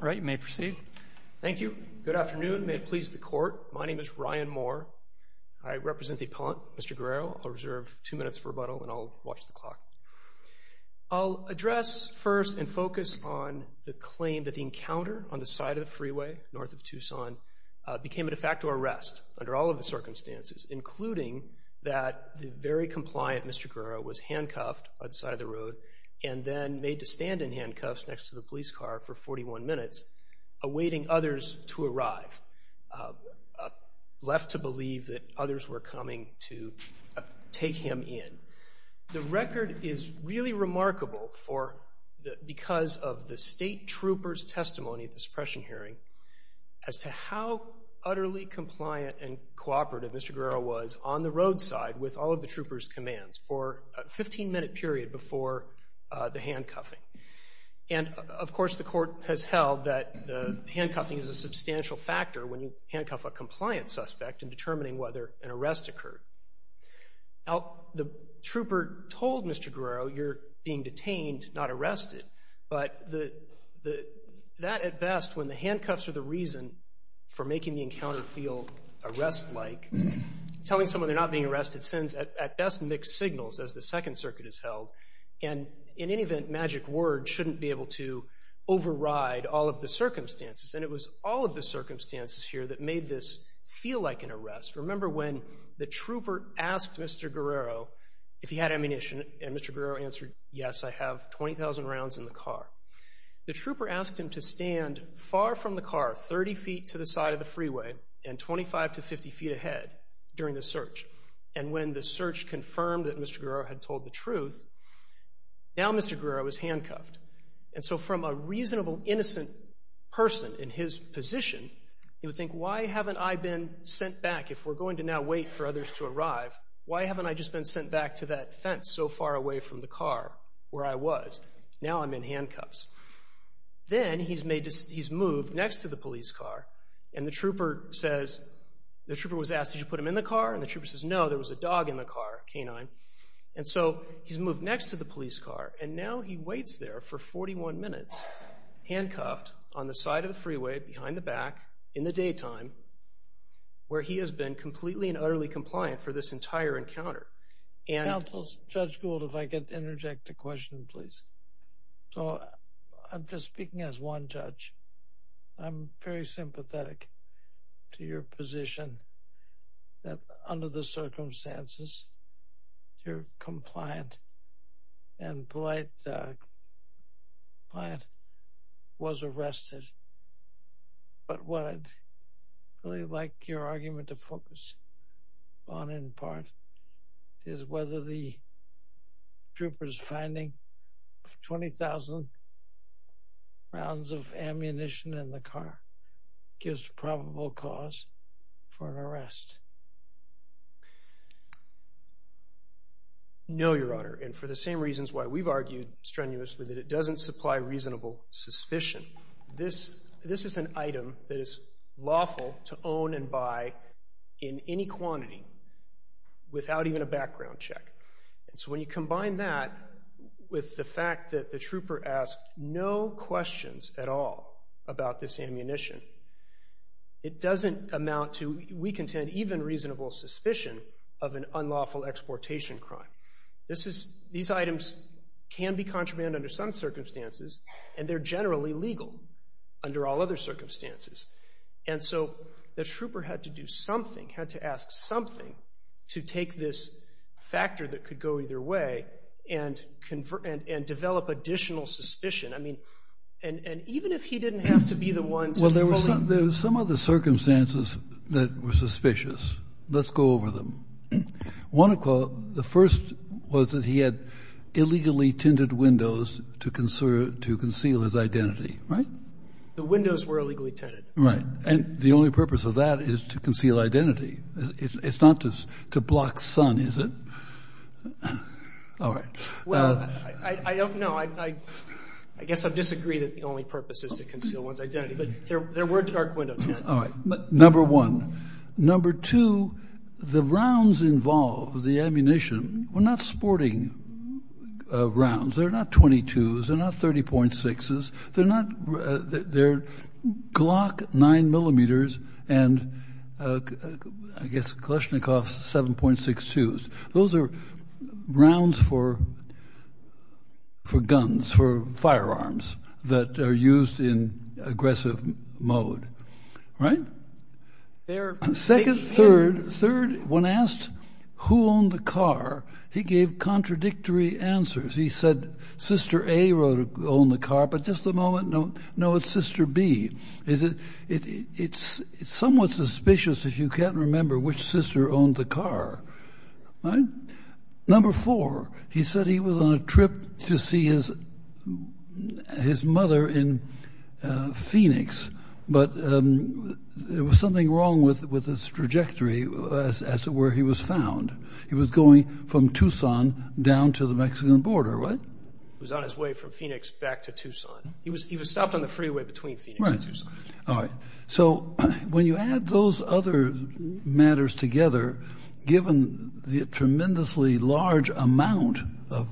All right, you may proceed. Thank you. Good afternoon. May it please the court. My name is Ryan Moore. I represent the appellant, Mr. Guerrero. I'll reserve two minutes for rebuttal and I'll watch the clock. I'll address first and focus on the claim that the encounter on the side of the freeway north of Tucson became a de facto arrest under all of the circumstances, including that the very compliant Mr. Guerrero was handcuffed by the road and then made to stand in handcuffs next to the police car for 41 minutes, awaiting others to arrive, left to believe that others were coming to take him in. The record is really remarkable because of the state troopers' testimony at the suppression hearing as to how utterly compliant and cooperative Mr. Guerrero was on the roadside with all of the handcuffing. And of course the court has held that the handcuffing is a substantial factor when you handcuff a compliant suspect in determining whether an arrest occurred. Now, the trooper told Mr. Guerrero, you're being detained, not arrested. But that at best, when the handcuffs are the reason for making the encounter feel arrest-like, telling someone they're not being And in any event, magic words shouldn't be able to override all of the circumstances. And it was all of the circumstances here that made this feel like an arrest. Remember when the trooper asked Mr. Guerrero if he had ammunition, and Mr. Guerrero answered, yes, I have 20,000 rounds in the car. The trooper asked him to stand far from the car, 30 feet to the side of the freeway, and 25 to 50 feet ahead during the search. And when the search confirmed that Mr. Guerrero had told the truth, now Mr. Guerrero was handcuffed. And so from a reasonable, innocent person in his position, you would think, why haven't I been sent back? If we're going to now wait for others to arrive, why haven't I just been sent back to that fence so far away from the car where I was? Now I'm in handcuffs. Then he's moved next to the police car, and the trooper was asked, did you put him in the car? And the trooper says, no, there was a dog in the car, canine. And so he's moved next to the police car, and now he waits there for 41 minutes, handcuffed on the side of the freeway, behind the back, in the daytime, where he has been completely and utterly compliant for this entire encounter. Counsel, Judge Gould, if I could interject a question, please. So I'm just speaking as one judge. I'm very sympathetic to your position, that under the circumstances, you're compliant, and polite client was arrested. But what I'd really like your argument to focus on in part is whether the trooper's finding 20,000 rounds of ammunition in the car gives probable cause for an arrest. No, Your Honor, and for the same reasons why we've argued strenuously that it doesn't supply reasonable suspicion. This is an item that is lawful to own and without even a background check. And so when you combine that with the fact that the trooper asked no questions at all about this ammunition, it doesn't amount to, we contend, even reasonable suspicion of an unlawful exportation crime. These items can be contraband under some circumstances, and they're generally legal under all other circumstances. And so the trooper had to do something to take this factor that could go either way and develop additional suspicion. I mean, and even if he didn't have to be the one to fully- Well, there were some other circumstances that were suspicious. Let's go over them. One of the first was that he had illegally tinted windows to conceal his identity, right? The windows were illegally tinted. Right. And the only purpose of that is to conceal identity. It's not to block sun, is it? All right. Well, I don't know. I guess I disagree that the only purpose is to conceal one's identity. But there were dark windows tinted. All right. Number one. Number two, the rounds involved, the ammunition, were not sporting rounds. They're not .22s. They're not .30.6s. They're Glock 9mm and, I guess, Kalashnikov 7.62s. Those are rounds for guns, for firearms that are used in aggressive mode. Right? Second, third, third, when asked who owned the car, he gave contradictory answers. He said, Sister A owned the car. But just a moment. No, it's Sister B. It's somewhat suspicious if you can't remember which sister owned the car. All right. Number four, he said he was on a trip to see his mother in Phoenix. But there was something wrong with his trajectory as to where he was found. He was going from Tucson down to the Mexican border, right? He was on his way from Phoenix back to Tucson. He was stopped on the freeway between Phoenix and Tucson. All right. So when you add those other matters together, given the tremendously large amount of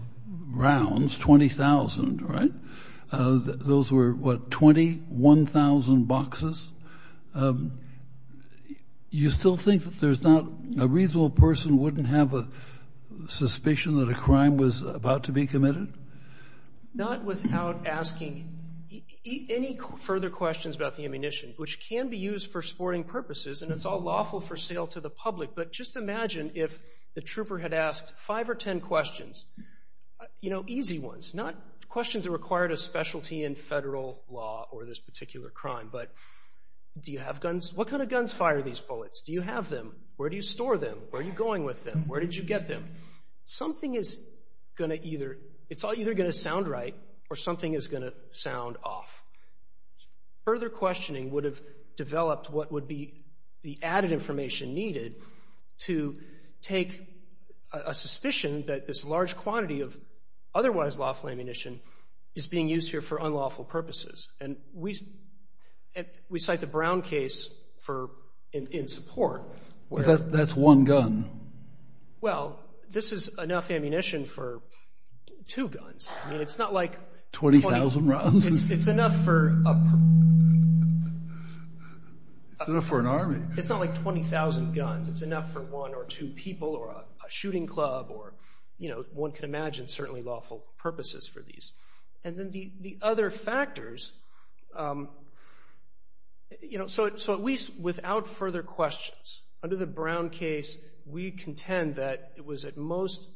rounds, 20,000, right? Those were, what, 20, 1,000 boxes? You still think that there's not a reasonable person wouldn't have a suspicion that a crime was about to be committed? Not without asking any further questions about the ammunition, which can be used for sporting purposes. And it's all lawful for sale to the public. But just imagine if the trooper had asked five or ten questions, you know, easy ones. Not questions that required a specialty in federal law or this particular crime, but do you have guns? What kind of guns fire these bullets? Do you have them? Where do you store them? Where are you going with them? Where did you get them? Something is going to either, it's all either going to sound right or something is going to sound off. Further questioning would have developed what would be the added information needed to take a suspicion that this large quantity of otherwise lawful ammunition is being used here for unlawful purposes. And we cite the Brown case for in support. But that's one gun. Well, this is enough ammunition for two guns. I mean, it's not like 20,000 rounds. It's enough for an army. It's not like 20,000 guns. It's enough for one or two people or a shooting club or, you know, one can imagine certainly lawful purposes for these. And then the other factors, you know, so at least without further questions, under the Brown case, we contend that it was at most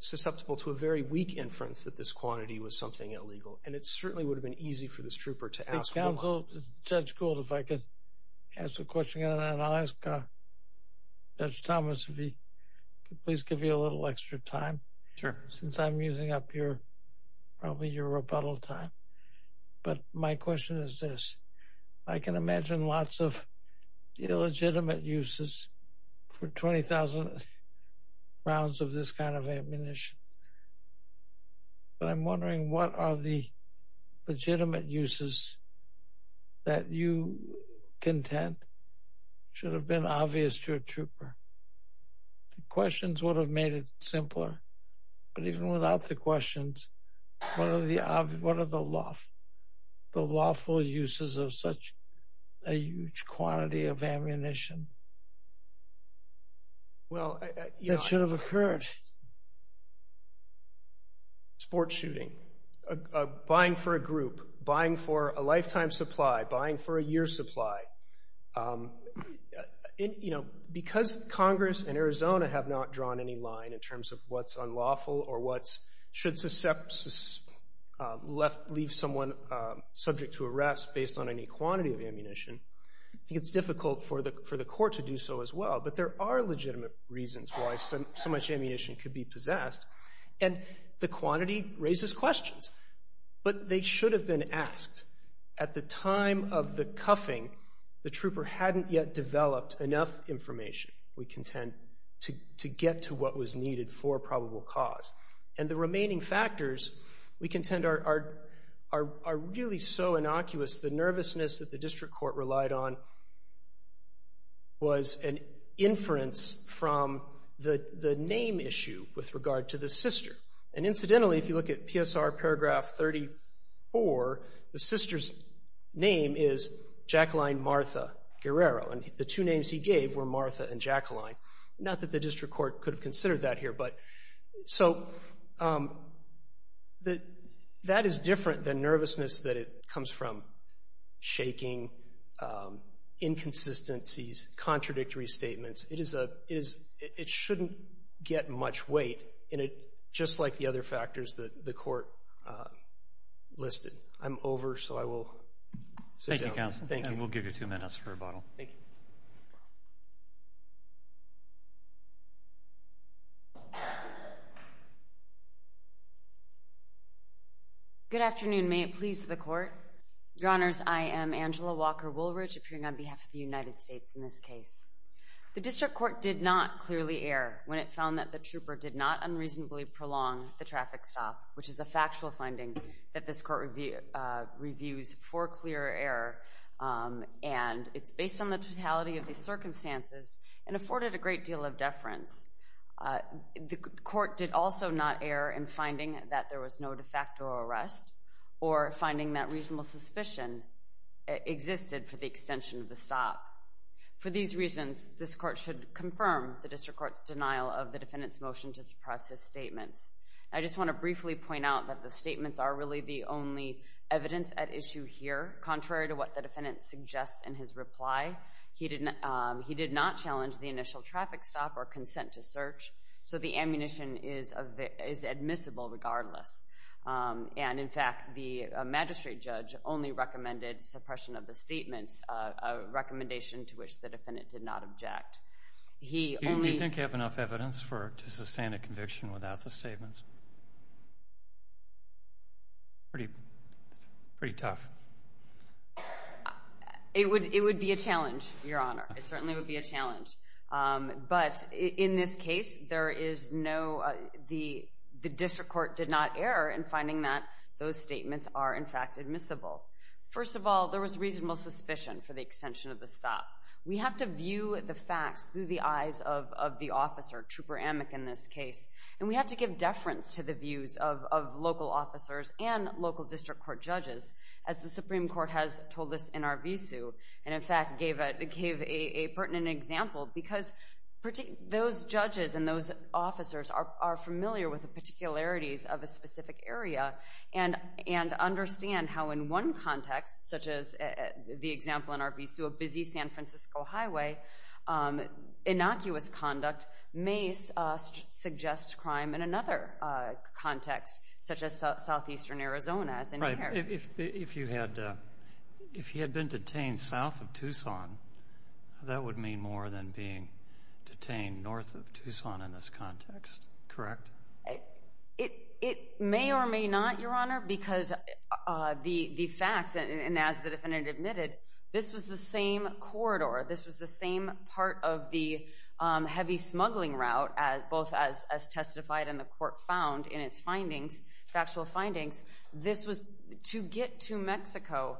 susceptible to a very weak inference that this quantity was something illegal. And it certainly would have been easy for this trooper to ask. Counsel, Judge Gould, if I could ask a question and then I'll ask Judge Thomas if he could please give you a little extra time. Sure. Since I'm using up your, probably your rebuttal time. But my question is this. I can imagine lots of illegitimate uses for 20,000 rounds of this kind of ammunition. But I'm wondering what are the legitimate uses that you contend should have been obvious to a trooper? The questions would have made it simpler. But even without the questions, what are the lawful uses of such a huge quantity of ammunition that should have occurred? Sports shooting, buying for a group, buying for a lifetime supply, buying for a year's supply. You know, because Congress and Arizona have not drawn any line in terms of what's unlawful or what should leave someone subject to arrest based on any quantity of ammunition, it's difficult for the court to do so as well. But there are legitimate reasons why so much ammunition could be possessed. And the quantity raises questions. But they should have been asked. At the time of the cuffing, the trooper hadn't yet developed enough information, we contend, to get to what was needed for a probable cause. And the remaining factors, we contend, are really so innocuous. The nervousness that the district court relied on was an inference from the name issue with regard to the sister. And incidentally, if you look at PSR paragraph 34, the sister's name is Jacqueline Martha Guerrero. And the two names he gave were Martha and Jacqueline. Not that the district court could have considered that here. So that is different than nervousness that comes from shaking, inconsistencies, contradictory statements. It shouldn't get much weight, just like the other factors that the court listed. I'm over, so I will sit down. Thank you, counsel. Thank you. And we'll give you two minutes for rebuttal. Thank you. Good afternoon. May it please the court. Your honors, I am Angela Walker Woolridge, appearing on behalf of the United States in this case. The district court did not clearly err when it found that the trooper did not unreasonably prolong the traffic stop, which is a factual finding that this court reviews for clear error. And it's based on the totality of the circumstances and afforded a great deal of deference. The court did also not err in finding that there was no de facto arrest, or finding that reasonable suspicion existed for the extension of the stop. For these reasons, this court should confirm the district court's denial of the defendant's motion to suppress his statements. I just want to briefly point out that the statements are really the only evidence at issue here, contrary to what the defendant suggests in his reply. He did not challenge the initial traffic stop or consent to search. So the ammunition is admissible regardless. And in fact, the magistrate judge only recommended suppression of the statements, a recommendation to which the defendant did not object. He only- Do you think you have enough evidence to sustain a conviction without the statements? Pretty tough. It would be a challenge, Your Honor. It certainly would be a challenge. But in this case, there is no- The district court did not err in finding that those statements are in fact admissible. First of all, there was reasonable suspicion for the extension of the stop. We have to view the facts through the eyes of the officer, Trooper Amick in this case. And we have to give deference to the views of local officers and local district court judges as the Supreme Court has told us in Arvizu, and in fact gave a pertinent example. Because those judges and those officers are familiar with the particularities of a specific area and understand how in one context, such as the example in Arvizu, a busy San Francisco highway, innocuous conduct may suggest crime in another context, such as southeastern Arizona, as in here. If he had been detained south of Tucson, that would mean more than being detained north of Tucson in this context, correct? It may or may not, Your Honor, because the facts, and as the defendant admitted, this was the same corridor. This was the same part of the heavy smuggling route, both as testified and the court found in its findings, factual findings. This was, to get to Mexico,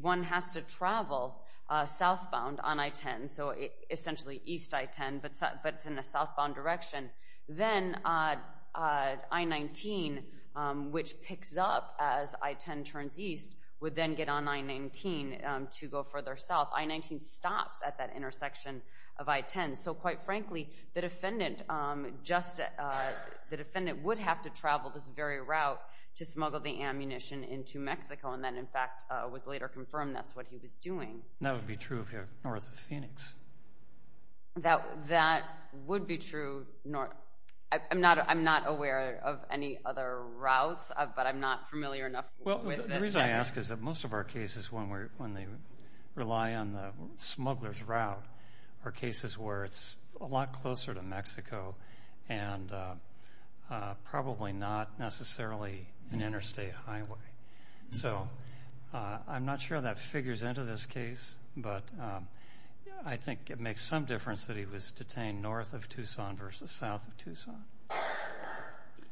one has to travel southbound on I-10, so essentially east I-10, but it's in a southbound direction. Then I-19, which picks up as I-10 turns east, would then get on I-19 to go further south. I-19 stops at that intersection of I-10. Quite frankly, the defendant would have to travel this very route to smuggle the ammunition into Mexico, and then in fact, it was later confirmed that's what he was doing. That would be true if you're north of Phoenix. That would be true. I'm not aware of any other routes, but I'm not familiar enough with it. The reason I ask is that most of our cases, when they rely on the smuggler's route, are cases where it's a lot closer to Mexico and probably not necessarily an interstate highway. I'm not sure that figures into this case, but I think it makes some difference that he was detained north of Tucson versus south of Tucson.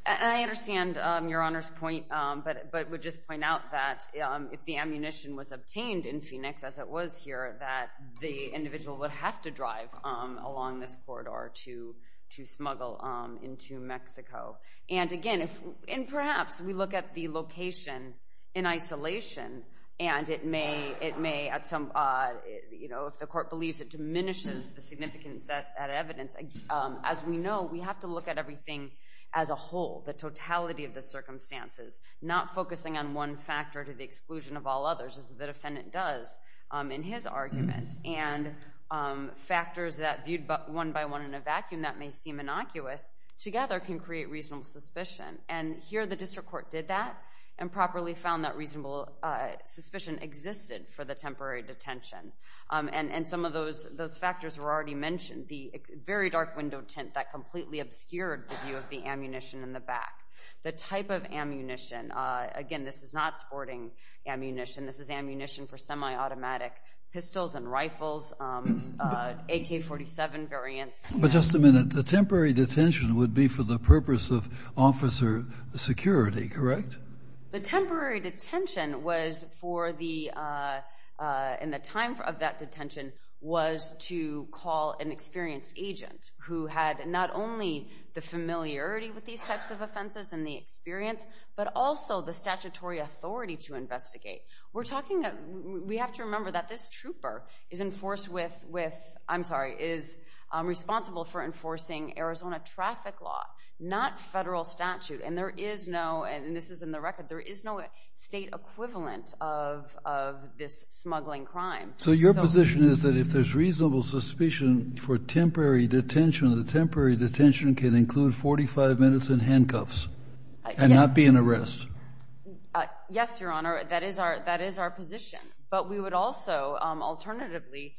I understand Your Honor's point, but would just point out that if the ammunition was obtained in Phoenix, as it was here, that the individual would have to drive along this corridor to smuggle into Mexico. Again, and perhaps we look at the location in isolation, and if the court believes it diminishes the significance of that evidence, as we know, we have to look at everything as a whole, the totality of the circumstances, not focusing on one factor to the exclusion of all others, as the defendant does in his argument. And factors that viewed one by one in a vacuum that may seem innocuous, together can create reasonable suspicion. And here, the district court did that and properly found that reasonable suspicion existed for the temporary detention. And some of those factors were already mentioned. The very dark window tint that completely obscured the view of the ammunition in the back. The type of ammunition, again, this is not sporting ammunition, this is ammunition for semi-automatic pistols and rifles, AK-47 variants. But just a minute, the temporary detention would be for the purpose of officer security, correct? The temporary detention was for the, and the time of that detention was to call an experienced agent who had not only the familiarity with these types of offenses and the experience, but also the statutory authority to investigate. We're talking, we have to remember that this trooper is enforced with, I'm sorry, is responsible for enforcing Arizona traffic law, not federal statute. And there is no, and this is in the record, there is no state equivalent of this smuggling crime. So your position is that if there's reasonable suspicion for temporary detention, the temporary detention can include 45 minutes in handcuffs and not be an arrest? Yes, Your Honor, that is our position. But we would also, alternatively,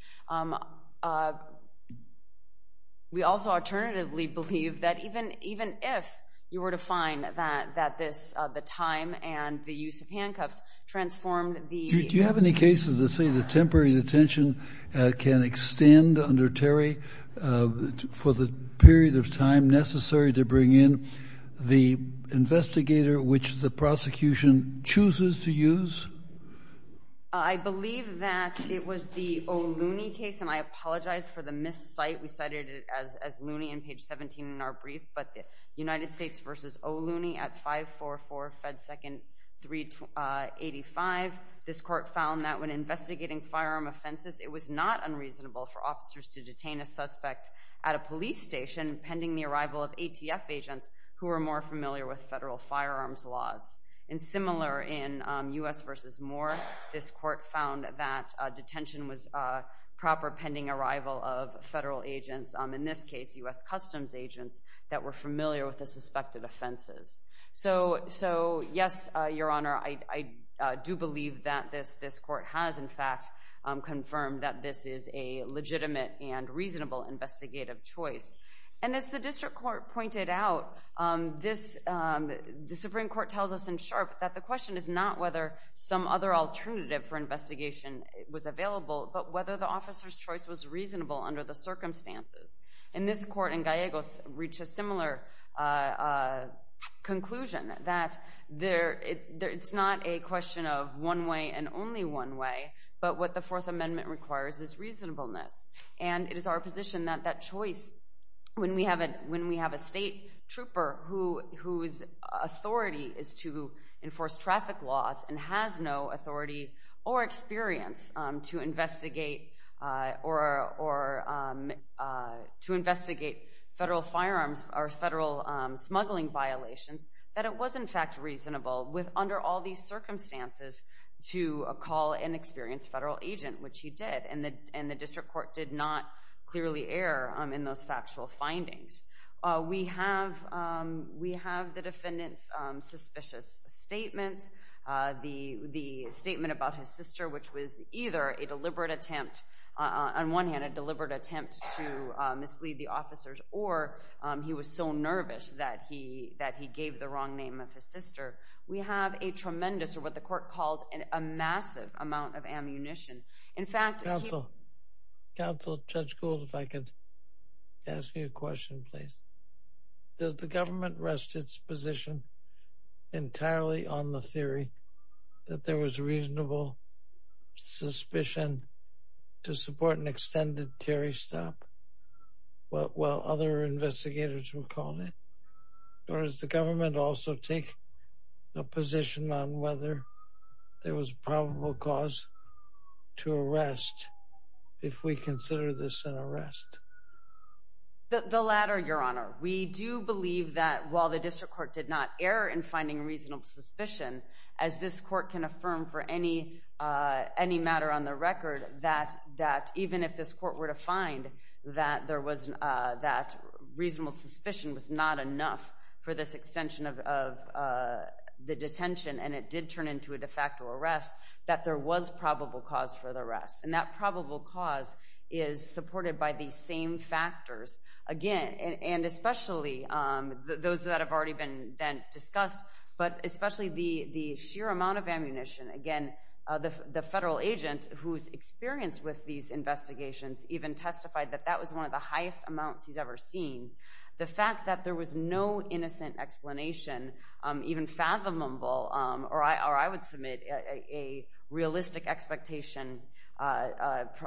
we also alternatively believe that even if you were to find that this, the time and the use of handcuffs transformed the... ...temporary detention can extend under Terry for the period of time necessary to bring in the investigator which the prosecution chooses to use? I believe that it was the O'Looney case, and I apologize for the miscite. We cited it as Looney in page 17 in our brief, but the United States versus O'Looney at 544 Fed 2nd 385. This court found that when investigating firearm offenses, it was not unreasonable for officers to detain a suspect at a police station pending the arrival of ATF agents who are more familiar with federal firearms laws. And similar in U.S. versus Moore, this court found that detention was proper pending arrival of federal agents. In this case, U.S. Customs agents that were familiar with the suspected offenses. So, yes, Your Honor, I do believe that this court has, in fact, confirmed that this is a legitimate and reasonable investigative choice. And as the district court pointed out, the Supreme Court tells us in sharp that the question is not whether some other alternative for investigation was available, but whether the officer's choice was reasonable under the circumstances. And this court in Gallegos reached a similar conclusion, that it's not a question of one way and only one way, but what the Fourth Amendment requires is reasonableness. And it is our position that that choice, when we have a state trooper whose authority is to enforce traffic laws and has no authority or to investigate federal firearms or federal smuggling violations, that it was in fact reasonable under all these circumstances to call an experienced federal agent, which he did, and the district court did not clearly err in those factual findings. We have the defendant's suspicious statements. The statement about his sister, which was either a deliberate attempt, on one hand, a deliberate attempt to mislead the officers, or he was so nervous that he gave the wrong name of his sister. We have a tremendous, or what the court called, a massive amount of ammunition. In fact- Council, Judge Gould, if I could ask you a question, please. Does the government rest its position entirely on the theory that there was reasonable suspicion to support an extended Terry stop, while other investigators were calling it? Or does the government also take a position on whether there was probable cause to arrest if we consider this an arrest? The latter, Your Honor. We do believe that while the district court did not err in finding reasonable suspicion, as this court can affirm for any matter on the record, that even if this court were to find that reasonable suspicion was not enough for this extension of the detention, and it did turn into a de facto arrest, that there was probable cause for the arrest. And that probable cause is supported by these same factors. Again, and especially those that have already been then discussed, but especially the sheer amount of ammunition. Again, the federal agent who's experienced with these investigations even testified that that was one of the highest amounts he's ever seen. The fact that there was no innocent explanation, even fathomable, or I would submit a realistic expectation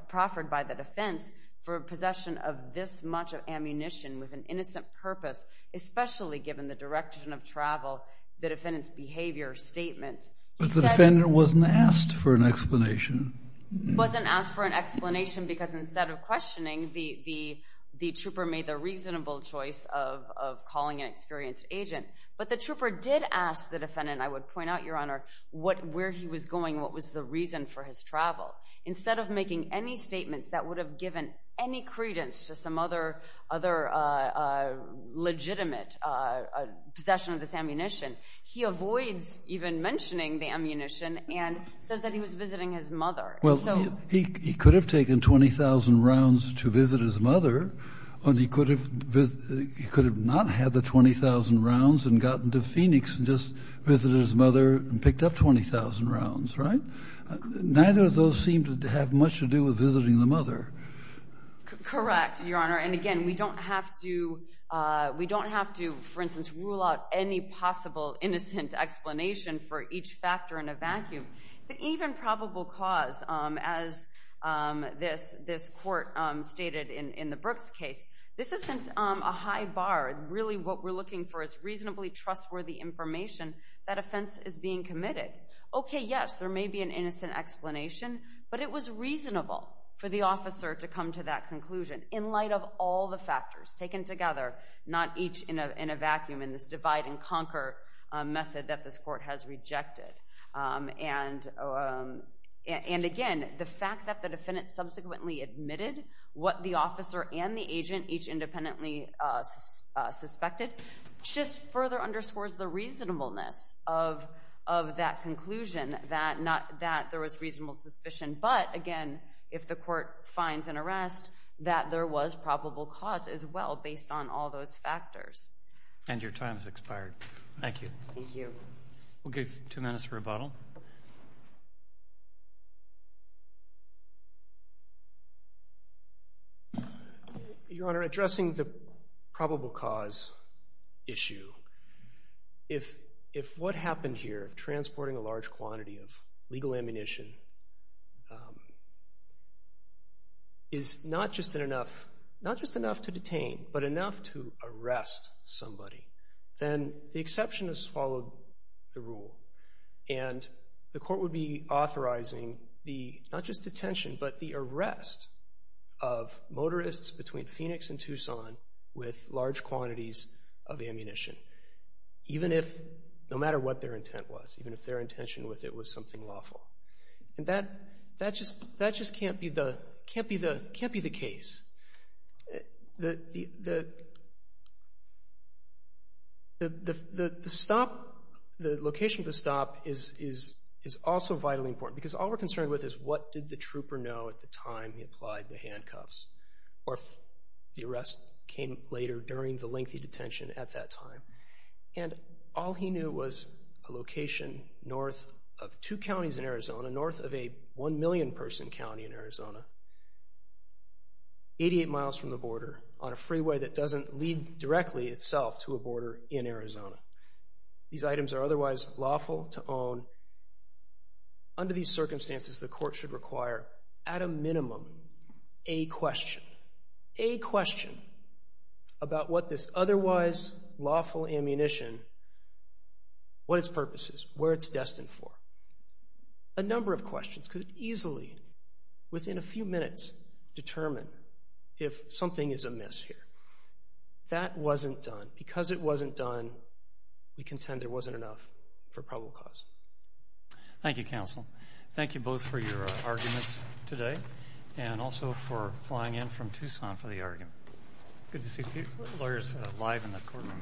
proffered by the defense for possession of this much of ammunition with an innocent purpose, especially given the direction of travel, the defendant's behavior, statements. But the defendant wasn't asked for an explanation. Wasn't asked for an explanation because instead of questioning, the trooper made the reasonable choice of calling an experienced agent. But the trooper did ask the defendant, I would point out, Your Honor, where he was going, what was the reason for his travel. Instead of making any statements that would have given any credence to some other legitimate possession of this ammunition, he avoids even mentioning the ammunition and says that he was visiting his mother. And so- He could have taken 20,000 rounds to visit his mother, and he could have not had the 20,000 rounds and gotten to Phoenix and just visited his mother and picked up 20,000 rounds, right? Neither of those seem to have much to do with visiting the mother. Correct, Your Honor. And again, we don't have to, for instance, rule out any possible innocent explanation for each factor in a vacuum. The even probable cause, as this court stated in the Brooks case, this isn't a high bar, really what we're looking for is reasonably trustworthy information that offense is being committed. Okay, yes, there may be an innocent explanation, but it was reasonable for the officer to come to that conclusion in light of all the factors taken together, not each in a vacuum in this divide and conquer method that this court has rejected, and again, the fact that the defendant subsequently admitted what the officer and the agent each independently suspected just further underscores the reasonableness of that conclusion, that there was reasonable suspicion. But again, if the court finds an arrest, that there was probable cause as well based on all those factors. And your time has expired. Thank you. Thank you. We'll give two minutes for rebuttal. Your Honor, addressing the probable cause issue, if what happened here, transporting a large quantity of legal ammunition, is not just enough, not just enough to detain, but enough to arrest somebody, then the exception has followed the rule, and the court would be authorizing the, not just detention, but the arrest of motorists between Phoenix and Tucson with large quantities of ammunition, even if, no matter what their intent was, even if their intention with it was something lawful. And that just can't be the case. The stop, the location of the stop is also vitally important. Because all we're concerned with is, what did the trooper know at the time he applied the handcuffs? Or if the arrest came later during the lengthy detention at that time. And all he knew was a location north of two counties in Arizona, north of a one million person county in Arizona. Eighty-eight miles from the border on a freeway that doesn't lead directly itself to a border in Arizona. These items are otherwise lawful to own. Under these circumstances, the court should require, at a minimum, a question. A question about what this otherwise lawful ammunition, what its purpose is, where it's destined for. A number of questions could easily, within a few minutes, determine if something is amiss here. That wasn't done. Because it wasn't done, we contend there wasn't enough for probable cause. Thank you, counsel. Thank you both for your arguments today, and also for flying in from Tucson for the argument. Good to see lawyers live in the courtroom again.